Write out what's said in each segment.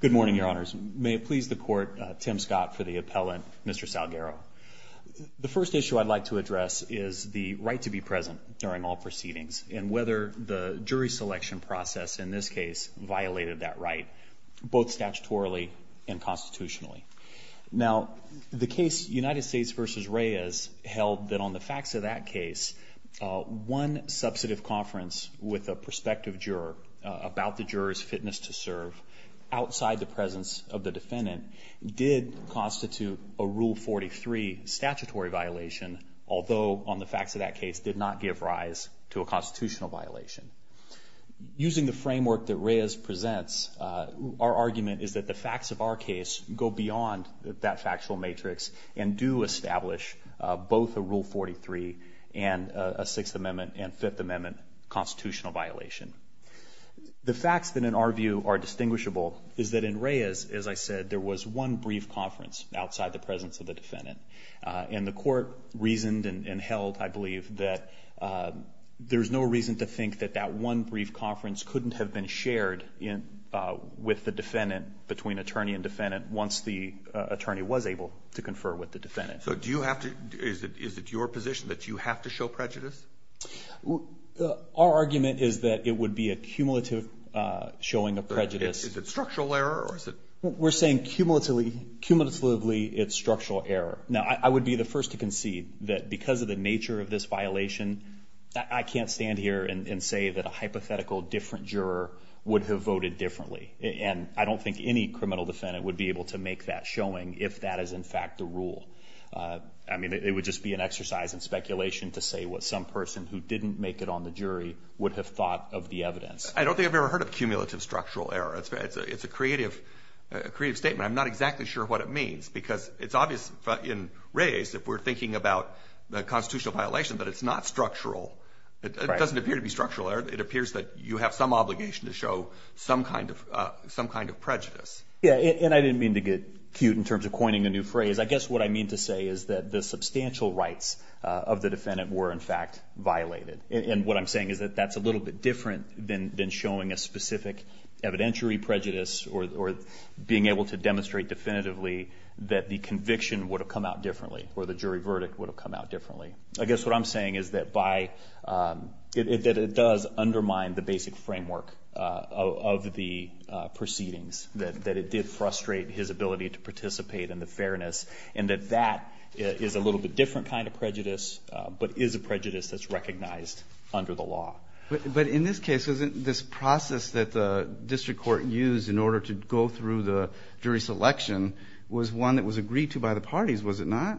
Good morning, your honors. May it please the court, Tim Scott for the appellant, Mr. Salguero. The first issue I'd like to address is the right to be present during all proceedings and whether the jury selection process in this case violated that right, both statutorily and constitutionally. Now, the case United States v. Reyes held that on the facts of that case, one substantive conference with a prospective juror about the juror's fitness to serve outside the presence of the defendant did constitute a Rule 43 statutory violation, although on the facts of that case did not give rise to a constitutional violation. Using the framework that Reyes presents, our argument is that the facts of our case go beyond that factual matrix and do establish both a Rule 43 and a Sixth Amendment and Fifth Amendment constitutional violation. The facts that in our view are distinguishable is that in Reyes, as I said, there was one brief conference outside the presence of the defendant. And the court reasoned and held, I believe, that there's no reason to think that that one brief conference couldn't have been shared with the defendant, between attorney and defendant, once the attorney was able to confer with the defendant. Is it your position that you have to show prejudice? Our argument is that it would be a cumulative showing of prejudice. Is it structural error? We're saying cumulatively it's structural error. Now, I would be the first to concede that because of the nature of this violation, I can't stand here and say that a hypothetical different juror would have voted differently. And I don't think any criminal defendant would be able to make that showing if that is, in fact, the rule. I mean, it would just be an exercise in speculation to say what some person who didn't make it on the jury would have thought of the evidence. I don't think I've ever heard of cumulative structural error. It's a creative statement. I'm not exactly sure what it means because it's obvious in Reyes if we're thinking about the constitutional violation that it's not structural. It doesn't appear to be structural error. It appears that you have some obligation to show some kind of prejudice. Yeah, and I didn't mean to get cute in terms of coining a new phrase. I guess what I mean to say is that the substantial rights of the defendant were, in fact, violated. And what I'm saying is that that's a little bit different than showing a specific evidentiary prejudice or being able to demonstrate definitively that the conviction would have come out differently or the jury verdict would have come out differently. I guess what I'm saying is that it does undermine the basic framework of the proceedings, that it did frustrate his ability to participate in the fairness, and that that is a little bit different kind of prejudice but is a prejudice that's recognized under the law. But in this case, isn't this process that the district court used in order to go through the jury selection was one that was agreed to by the parties, was it not?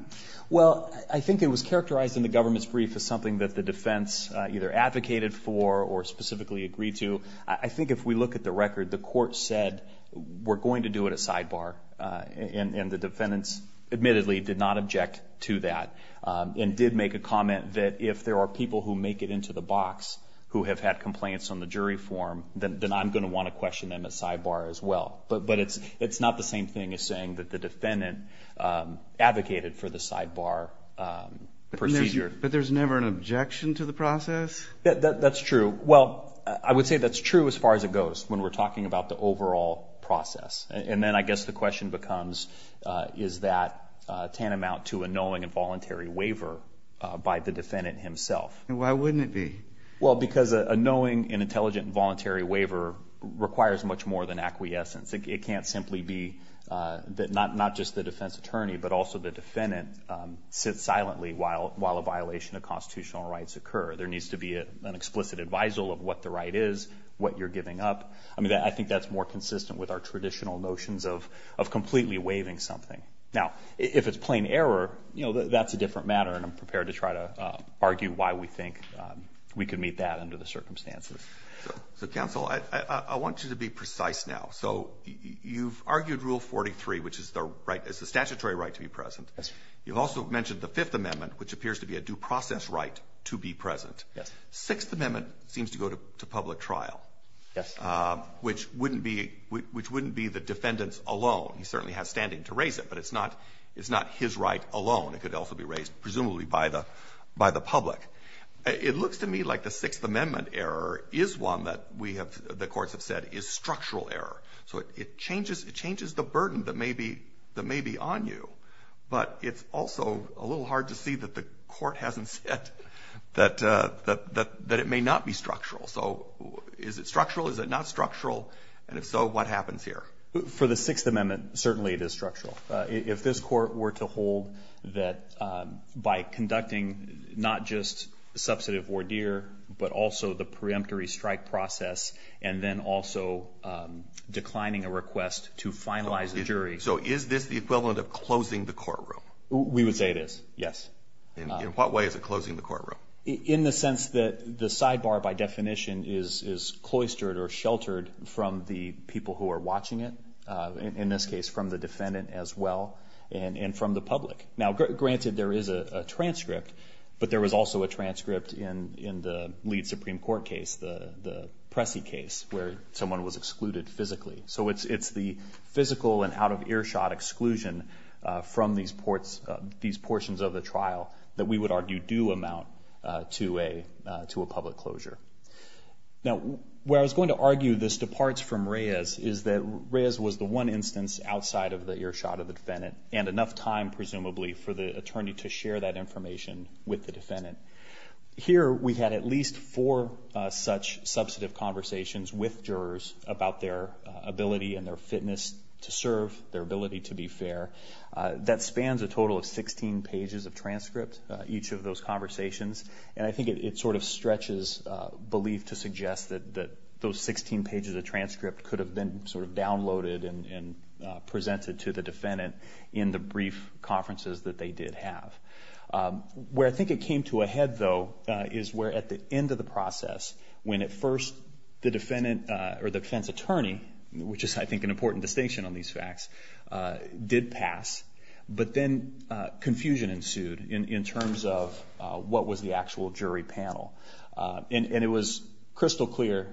Well, I think it was characterized in the government's brief as something that the defense either advocated for or specifically agreed to. I think if we look at the record, the court said we're going to do it at sidebar, and the defendants admittedly did not object to that and did make a comment that if there are people who make it into the box who have had complaints on the jury form, then I'm going to want to question them at sidebar as well. But it's not the same thing as saying that the defendant advocated for the sidebar procedure. But there's never an objection to the process? That's true. Well, I would say that's true as far as it goes when we're talking about the overall process. And then I guess the question becomes, is that tantamount to a knowing and voluntary waiver by the defendant himself? Why wouldn't it be? Well, because a knowing and intelligent and voluntary waiver requires much more than acquiescence. It can't simply be that not just the defense attorney but also the defendant sits silently while a violation of constitutional rights occur. There needs to be an explicit advisal of what the right is, what you're giving up. I mean, I think that's more consistent with our traditional notions of completely waiving something. Now, if it's plain error, you know, that's a different matter, and I'm prepared to try to argue why we think we could meet that under the circumstances. So, counsel, I want you to be precise now. So you've argued Rule 43, which is the statutory right to be present. Yes, sir. You've also mentioned the Fifth Amendment, which appears to be a due process right to be present. Yes. Sixth Amendment seems to go to public trial. Yes. Which wouldn't be the defendant's alone. He certainly has standing to raise it, but it's not his right alone. It could also be raised presumably by the public. It looks to me like the Sixth Amendment error is one that we have the courts have said is structural error. So it changes the burden that may be on you, but it's also a little hard to see that the court hasn't said that it may not be structural. So is it structural? Is it not structural? And if so, what happens here? For the Sixth Amendment, certainly it is structural. If this court were to hold that by conducting not just substantive ordeer, but also the preemptory strike process, and then also declining a request to finalize the jury. So is this the equivalent of closing the courtroom? We would say it is, yes. In what way is it closing the courtroom? In the sense that the sidebar, by definition, is cloistered or sheltered from the people who are watching it. In this case, from the defendant as well, and from the public. Now, granted, there is a transcript, but there was also a transcript in the lead Supreme Court case, the Pressy case, where someone was excluded physically. So it's the physical and out-of-earshot exclusion from these portions of the trial that we would argue do amount to a public closure. Now, where I was going to argue this departs from Reyes is that Reyes was the one instance outside of the earshot of the defendant, and enough time, presumably, for the attorney to share that information with the defendant. Here, we had at least four such substantive conversations with jurors about their ability and their fitness to serve, their ability to be fair. That spans a total of 16 pages of transcript, each of those conversations. And I think it sort of stretches belief to suggest that those 16 pages of transcript could have been sort of downloaded and presented to the defendant in the brief conferences that they did have. Where I think it came to a head, though, is where at the end of the process, when at first the defense attorney, which is, I think, an important distinction on these facts, did pass. But then confusion ensued in terms of what was the actual jury panel. And it was crystal clear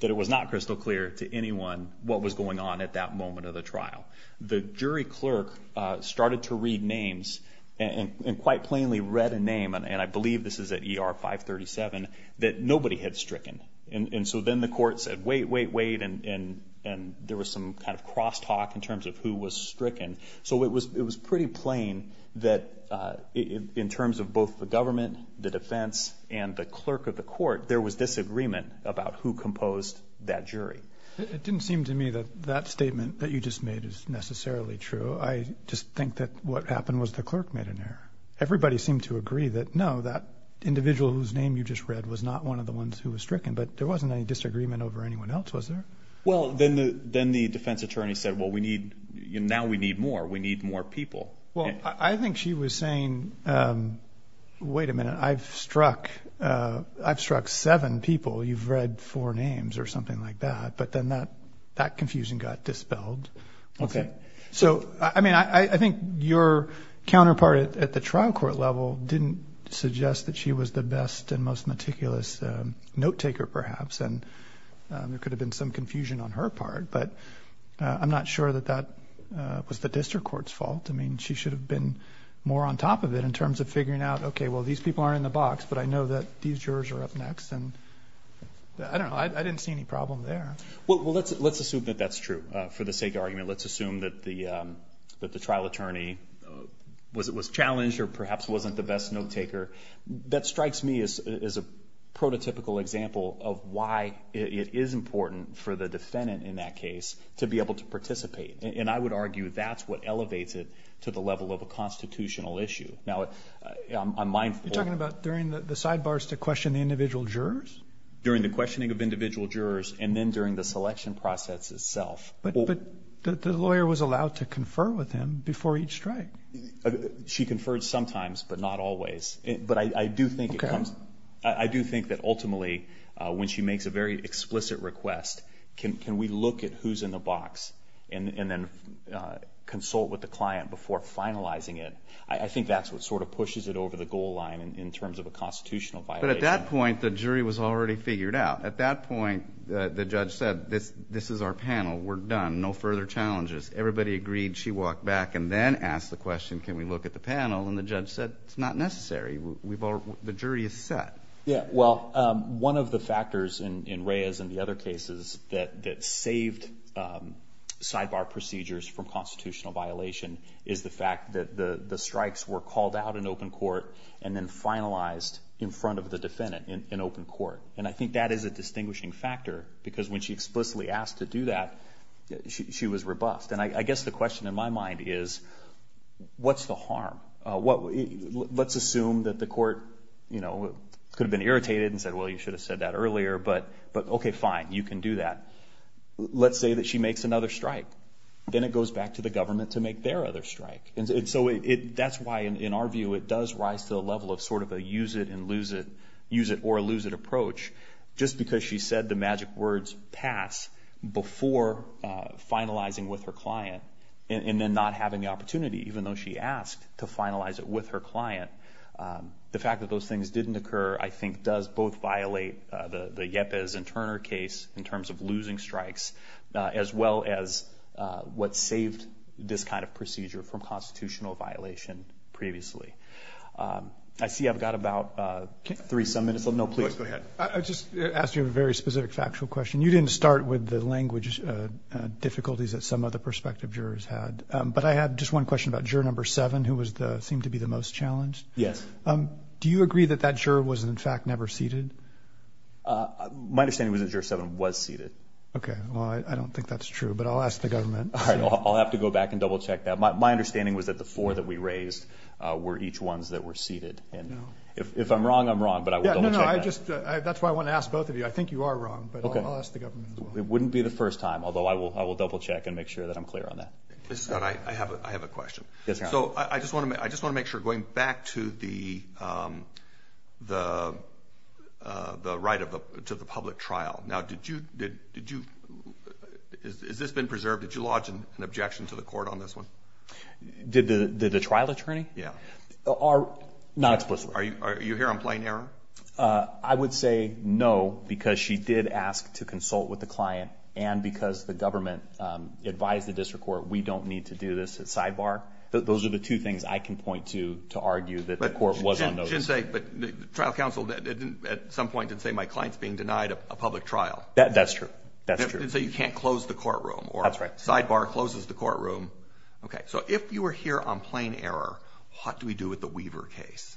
that it was not crystal clear to anyone what was going on at that moment of the trial. The jury clerk started to read names and quite plainly read a name, and I believe this is at ER 537, that nobody had stricken. And so then the court said, wait, wait, wait, and there was some kind of crosstalk in terms of who was stricken. So it was pretty plain that in terms of both the government, the defense, and the clerk of the court, there was disagreement about who composed that jury. It didn't seem to me that that statement that you just made is necessarily true. I just think that what happened was the clerk made an error. Everybody seemed to agree that, no, that individual whose name you just read was not one of the ones who was stricken. But there wasn't any disagreement over anyone else, was there? Well, then the defense attorney said, well, now we need more. We need more people. Well, I think she was saying, wait a minute, I've struck seven people. You've read four names or something like that. But then that confusion got dispelled. Okay. So, I mean, I think your counterpart at the trial court level didn't suggest that she was the best and most meticulous note taker, perhaps. And there could have been some confusion on her part. I mean, she should have been more on top of it in terms of figuring out, okay, well, these people aren't in the box. But I know that these jurors are up next. And, I don't know, I didn't see any problem there. Well, let's assume that that's true. For the sake of argument, let's assume that the trial attorney was challenged or perhaps wasn't the best note taker. That strikes me as a prototypical example of why it is important for the defendant in that case to be able to participate. And I would argue that's what elevates it to the level of a constitutional issue. Now, I'm mindful. You're talking about during the sidebars to question the individual jurors? During the questioning of individual jurors and then during the selection process itself. But the lawyer was allowed to confer with him before each strike. She conferred sometimes but not always. But I do think it comes. Okay. I do think that ultimately when she makes a very explicit request, can we look at who's in the box and then consult with the client before finalizing it? I think that's what sort of pushes it over the goal line in terms of a constitutional violation. But at that point, the jury was already figured out. At that point, the judge said, this is our panel. We're done. No further challenges. Everybody agreed. She walked back and then asked the question, can we look at the panel? And the judge said, it's not necessary. The jury is set. Yeah. Well, one of the factors in Reyes and the other cases that saved sidebar procedures from constitutional violation is the fact that the strikes were called out in open court and then finalized in front of the defendant in open court. And I think that is a distinguishing factor because when she explicitly asked to do that, she was robust. And I guess the question in my mind is, what's the harm? Let's assume that the court could have been irritated and said, well, you should have said that earlier. But, okay, fine. You can do that. Let's say that she makes another strike. Then it goes back to the government to make their other strike. And so that's why, in our view, it does rise to the level of sort of a use it and lose it, use it or lose it approach. Just because she said the magic words pass before finalizing with her client and then not having the opportunity, even though she asked to finalize it with her client, the fact that those things didn't occur, I think, does both violate the Yepes and Turner case in terms of losing strikes as well as what saved this kind of procedure from constitutional violation previously. I see I've got about three-some minutes. Go ahead. I just asked you a very specific factual question. You didn't start with the language difficulties that some other prospective jurors had. But I had just one question about juror number seven, who seemed to be the most challenged. Yes. Do you agree that that juror was, in fact, never seated? My understanding was that juror seven was seated. Okay. Well, I don't think that's true. But I'll ask the government. All right. I'll have to go back and double-check that. My understanding was that the four that we raised were each ones that were seated. If I'm wrong, I'm wrong, but I will double-check that. No, no. That's why I want to ask both of you. I think you are wrong, but I'll ask the government as well. Okay. It wouldn't be the first time, although I will double-check and make sure that I'm clear on that. Mr. Scott, I have a question. Yes, Your Honor. So I just want to make sure, going back to the right to the public trial. Now, has this been preserved? Did you lodge an objection to the court on this one? Did the trial attorney? Yeah. Not explicitly. Are you here on plain error? I would say no, because she did ask to consult with the client, and because the government advised the district court we don't need to do this at sidebar. Those are the two things I can point to to argue that the court was on notice. But the trial counsel at some point did say my client's being denied a public trial. That's true. That's true. So you can't close the courtroom. That's right. Or sidebar closes the courtroom. Okay. So if you were here on plain error, what do we do with the Weaver case?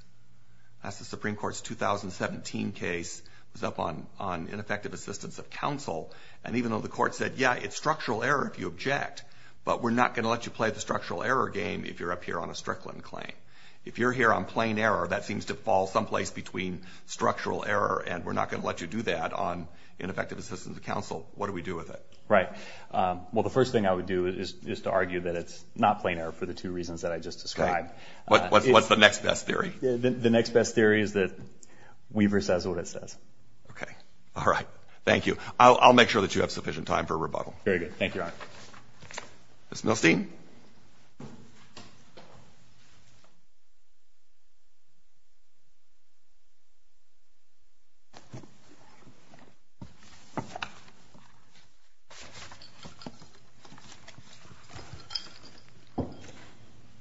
That's the Supreme Court's 2017 case. It was up on ineffective assistance of counsel. And even though the court said, yeah, it's structural error if you object, but we're not going to let you play the structural error game if you're up here on a Strickland claim. If you're here on plain error, that seems to fall someplace between structural error and we're not going to let you do that on ineffective assistance of counsel. What do we do with it? Right. Well, the first thing I would do is to argue that it's not plain error for the two reasons that I just described. What's the next best theory? The next best theory is that Weaver says what it says. Okay. All right. Thank you. I'll make sure that you have sufficient time for rebuttal. Very good. Thank you, Your Honor. Ms. Milstein. Ms. Milstein.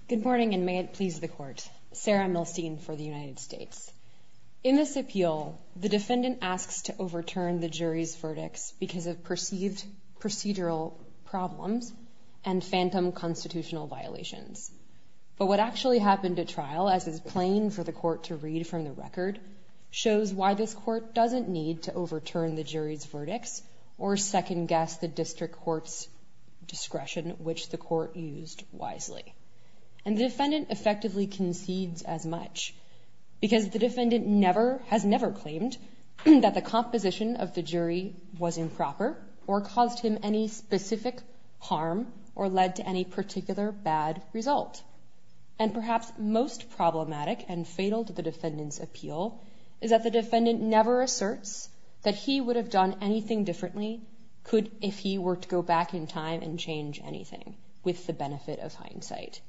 Good morning, and may it please the Court. Sarah Milstein for the United States. In this appeal, the defendant asks to overturn the jury's verdicts because of perceived procedural problems and phantom constitutional violations. But what actually happened at trial, as is plain for the court to read from the record, shows why this court doesn't need to overturn the jury's verdicts or second-guess the district court's discretion, which the court used wisely. And the defendant effectively concedes as much, because the defendant has never claimed that the composition of the jury was improper or caused him any specific harm or led to any particular bad result. And perhaps most problematic and fatal to the defendant's appeal is that the defendant never asserts that he would have done anything differently if he were to go back in time and change anything, with the benefit of hindsight.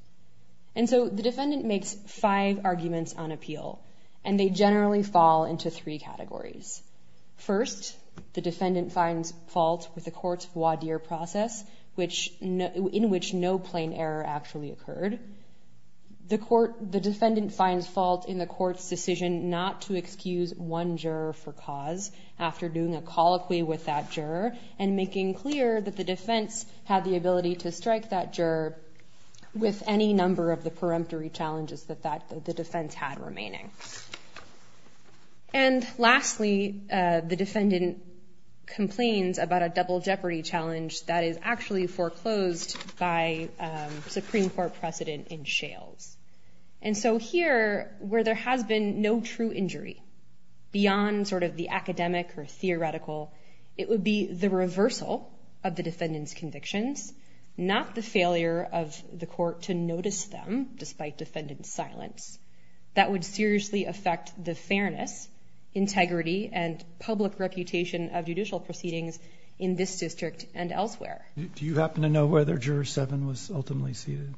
And so the defendant makes five arguments on appeal, and they generally fall into three categories. First, the defendant finds fault with the court's voir dire process, in which no plain error actually occurred. The defendant finds fault in the court's decision not to excuse one juror for cause after doing a colloquy with that juror, and making clear that the defense had the ability to strike that juror with any number of the peremptory challenges that the defense had remaining. And lastly, the defendant complains about a double jeopardy challenge that is actually foreclosed by Supreme Court precedent in Shales. And so here, where there has been no true injury, beyond sort of the academic or theoretical, it would be the reversal of the defendant's convictions, not the failure of the court to notice them, despite defendant's silence. That would seriously affect the fairness, integrity, and public reputation of judicial proceedings in this district and elsewhere. Do you happen to know whether Juror 7 was ultimately seated?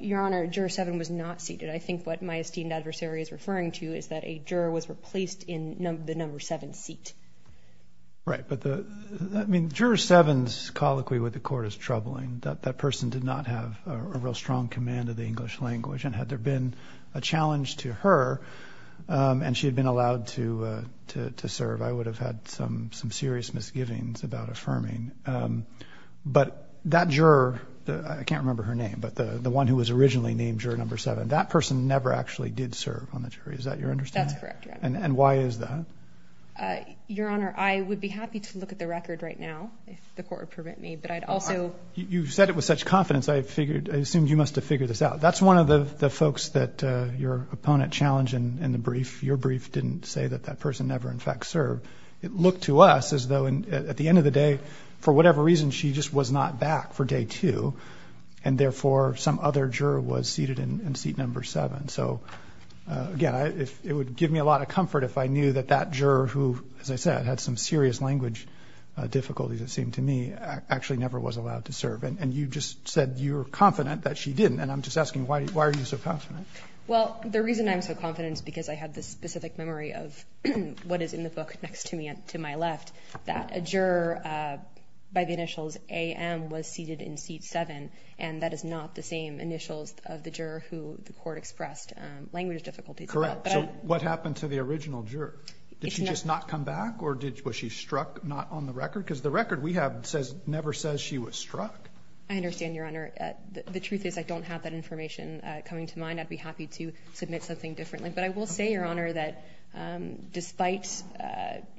Your Honor, Juror 7 was not seated. I think what my esteemed adversary is referring to is that a juror was replaced in the number 7 seat. Right. But, I mean, Juror 7's colloquy with the court is troubling. That person did not have a real strong command of the English language, and had there been a challenge to her and she had been allowed to serve, I would have had some serious misgivings about affirming. But that juror, I can't remember her name, but the one who was originally named Juror 7, that person never actually did serve on the jury. Is that your understanding? That's correct, Your Honor. And why is that? Your Honor, I would be happy to look at the record right now, if the court would permit me. But I'd also – You said it with such confidence, I assumed you must have figured this out. That's one of the folks that your opponent challenged in the brief. Your brief didn't say that that person never, in fact, served. It looked to us as though, at the end of the day, for whatever reason she just was not back for Day 2, and therefore some other juror was seated in seat number 7. So, again, it would give me a lot of comfort if I knew that that juror, who, as I said, had some serious language difficulties, it seemed to me, actually never was allowed to serve. And you just said you were confident that she didn't, and I'm just asking, why are you so confident? Well, the reason I'm so confident is because I had this specific memory of what is in the book next to me, to my left, that a juror by the initials A.M. was seated in seat 7, and that is not the same initials of the juror who the court expressed language difficulties about. Correct. So what happened to the original juror? Did she just not come back, or was she struck, not on the record? Because the record we have never says she was struck. I understand, Your Honor. The truth is I don't have that information coming to mind. I'd be happy to submit something differently. But I will say, Your Honor, that despite,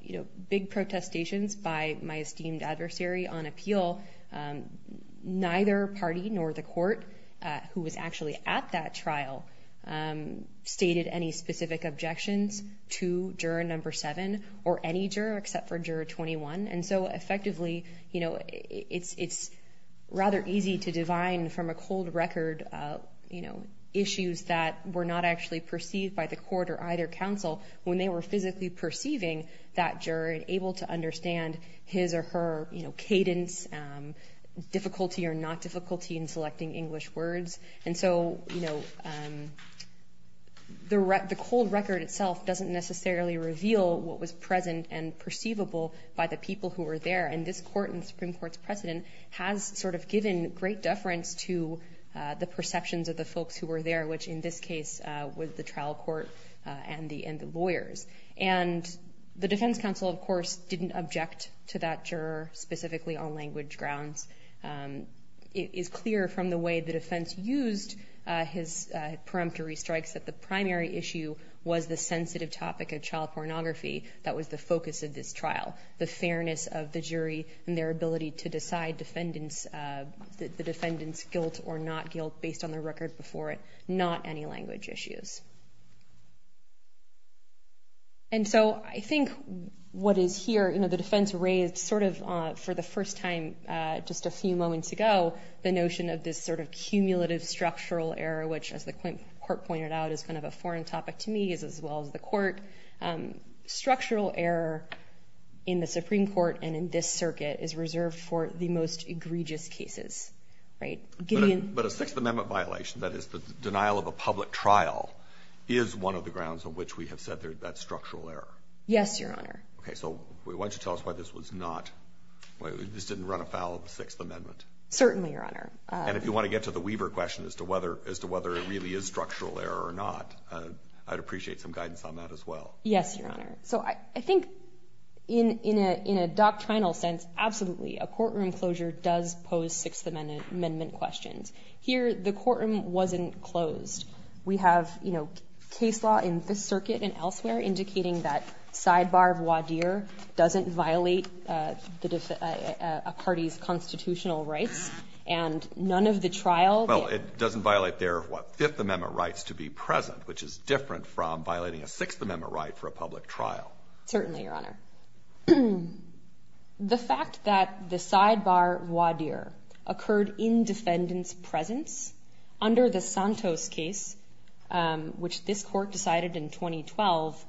you know, big protestations by my esteemed adversary on appeal, neither party nor the court who was actually at that trial stated any specific objections to juror number 7 or any juror except for juror 21. And so, effectively, you know, it's rather easy to divine from a cold record, you know, issues that were not actually perceived by the court or either counsel when they were physically perceiving that juror and able to understand his or her, you know, cadence, difficulty or not difficulty in selecting English words. And so, you know, the cold record itself doesn't necessarily reveal what was present and perceivable by the people who were there. And this court and the Supreme Court's precedent has sort of given great deference to the perceptions of the folks who were there, which in this case was the trial court and the lawyers. And the defense counsel, of course, didn't object to that juror specifically on language grounds. It is clear from the way the defense used his preemptory strikes that the primary issue was the sensitive topic of child pornography that was the focus of this trial, the fairness of the jury and their ability to decide defendants, the defendant's guilt or not guilt based on their record before it, not any language issues. And so I think what is here, you know, the defense raised sort of for the first time just a few moments ago, the notion of this sort of cumulative structural error, which as the court pointed out is kind of a foreign topic to me as well as the court. Structural error in the Supreme Court and in this circuit is reserved for the most egregious cases, right? But a Sixth Amendment violation, that is the denial of a public trial is one of the grounds on which we have said that structural error. Yes, Your Honor. Okay, so why don't you tell us why this was not, why this didn't run afoul of the Sixth Amendment. Certainly, Your Honor. And if you want to get to the Weaver question as to whether it really is Yes, Your Honor. So I think in a doctrinal sense, absolutely, a courtroom closure does pose Sixth Amendment questions. Here, the courtroom wasn't closed. We have, you know, case law in this circuit and elsewhere indicating that sidebar of Wadir doesn't violate a party's constitutional rights, and none of the trial Well, it doesn't violate their, what, Fifth Amendment rights to be present, which is different from violating a Sixth Amendment right for a public trial. Certainly, Your Honor. The fact that the sidebar Wadir occurred in defendant's presence under the Santos case, which this court decided in 2012,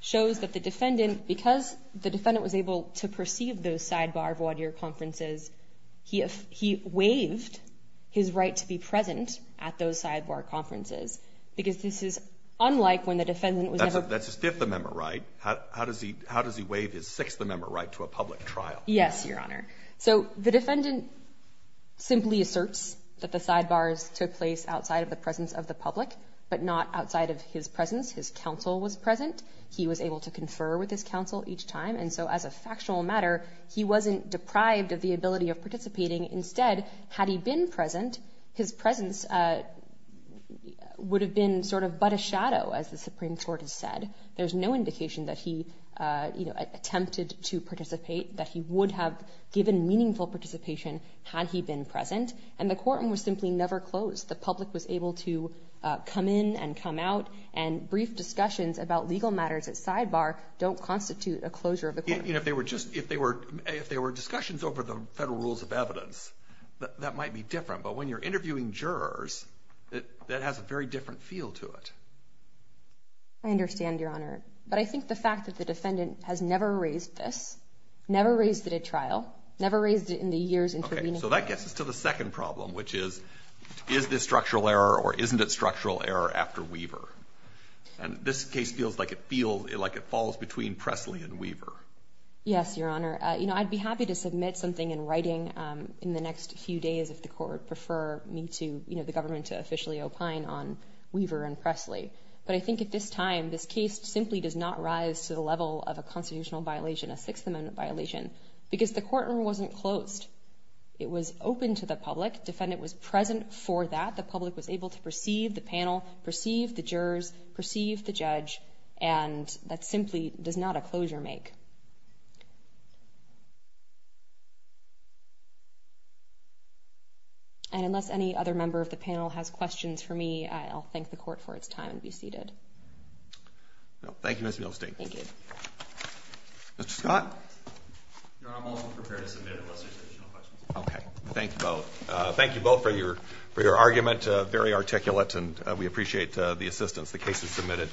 shows that the defendant, because the defendant was able to perceive those sidebar Wadir conferences, he waived his right to be present at those sidebar conferences, because this is unlike when the defendant was able to That's his Fifth Amendment right. How does he waive his Sixth Amendment right to a public trial? Yes, Your Honor. So the defendant simply asserts that the sidebars took place outside of the presence of the public, but not outside of his presence. His counsel was present. He was able to confer with his counsel each time. And so as a factual matter, he wasn't deprived of the ability of participating. Instead, had he been present, his presence would have been sort of but a shadow, as the Supreme Court has said. There's no indication that he, you know, attempted to participate, that he would have given meaningful participation had he been present. And the courtroom was simply never closed. The public was able to come in and come out, and brief discussions about legal matters at sidebar don't constitute a closure of the courtroom. I mean, if they were discussions over the federal rules of evidence, that might be different. But when you're interviewing jurors, that has a very different feel to it. I understand, Your Honor. But I think the fact that the defendant has never raised this, never raised it at trial, never raised it in the years intervening. So that gets us to the second problem, which is, is this structural error or isn't it structural error after Weaver? And this case feels like it falls between Presley and Weaver. Yes, Your Honor. You know, I'd be happy to submit something in writing in the next few days if the court would prefer me to, you know, the government to officially opine on Weaver and Presley. But I think at this time, this case simply does not rise to the level of a constitutional violation, a Sixth Amendment violation, because the courtroom wasn't closed. It was open to the public. Defendant was present for that. The public was able to perceive the panel, perceive the jurors, perceive the judge, and that simply does not a closure make. And unless any other member of the panel has questions for me, I'll thank the court for its time and be seated. Thank you, Ms. Milstein. Thank you. Mr. Scott? Your Honor, I'm also prepared to submit unless there's additional questions. Okay. Thank you both. Thank you both for your argument, very articulate, and we appreciate the assistance. The case is submitted.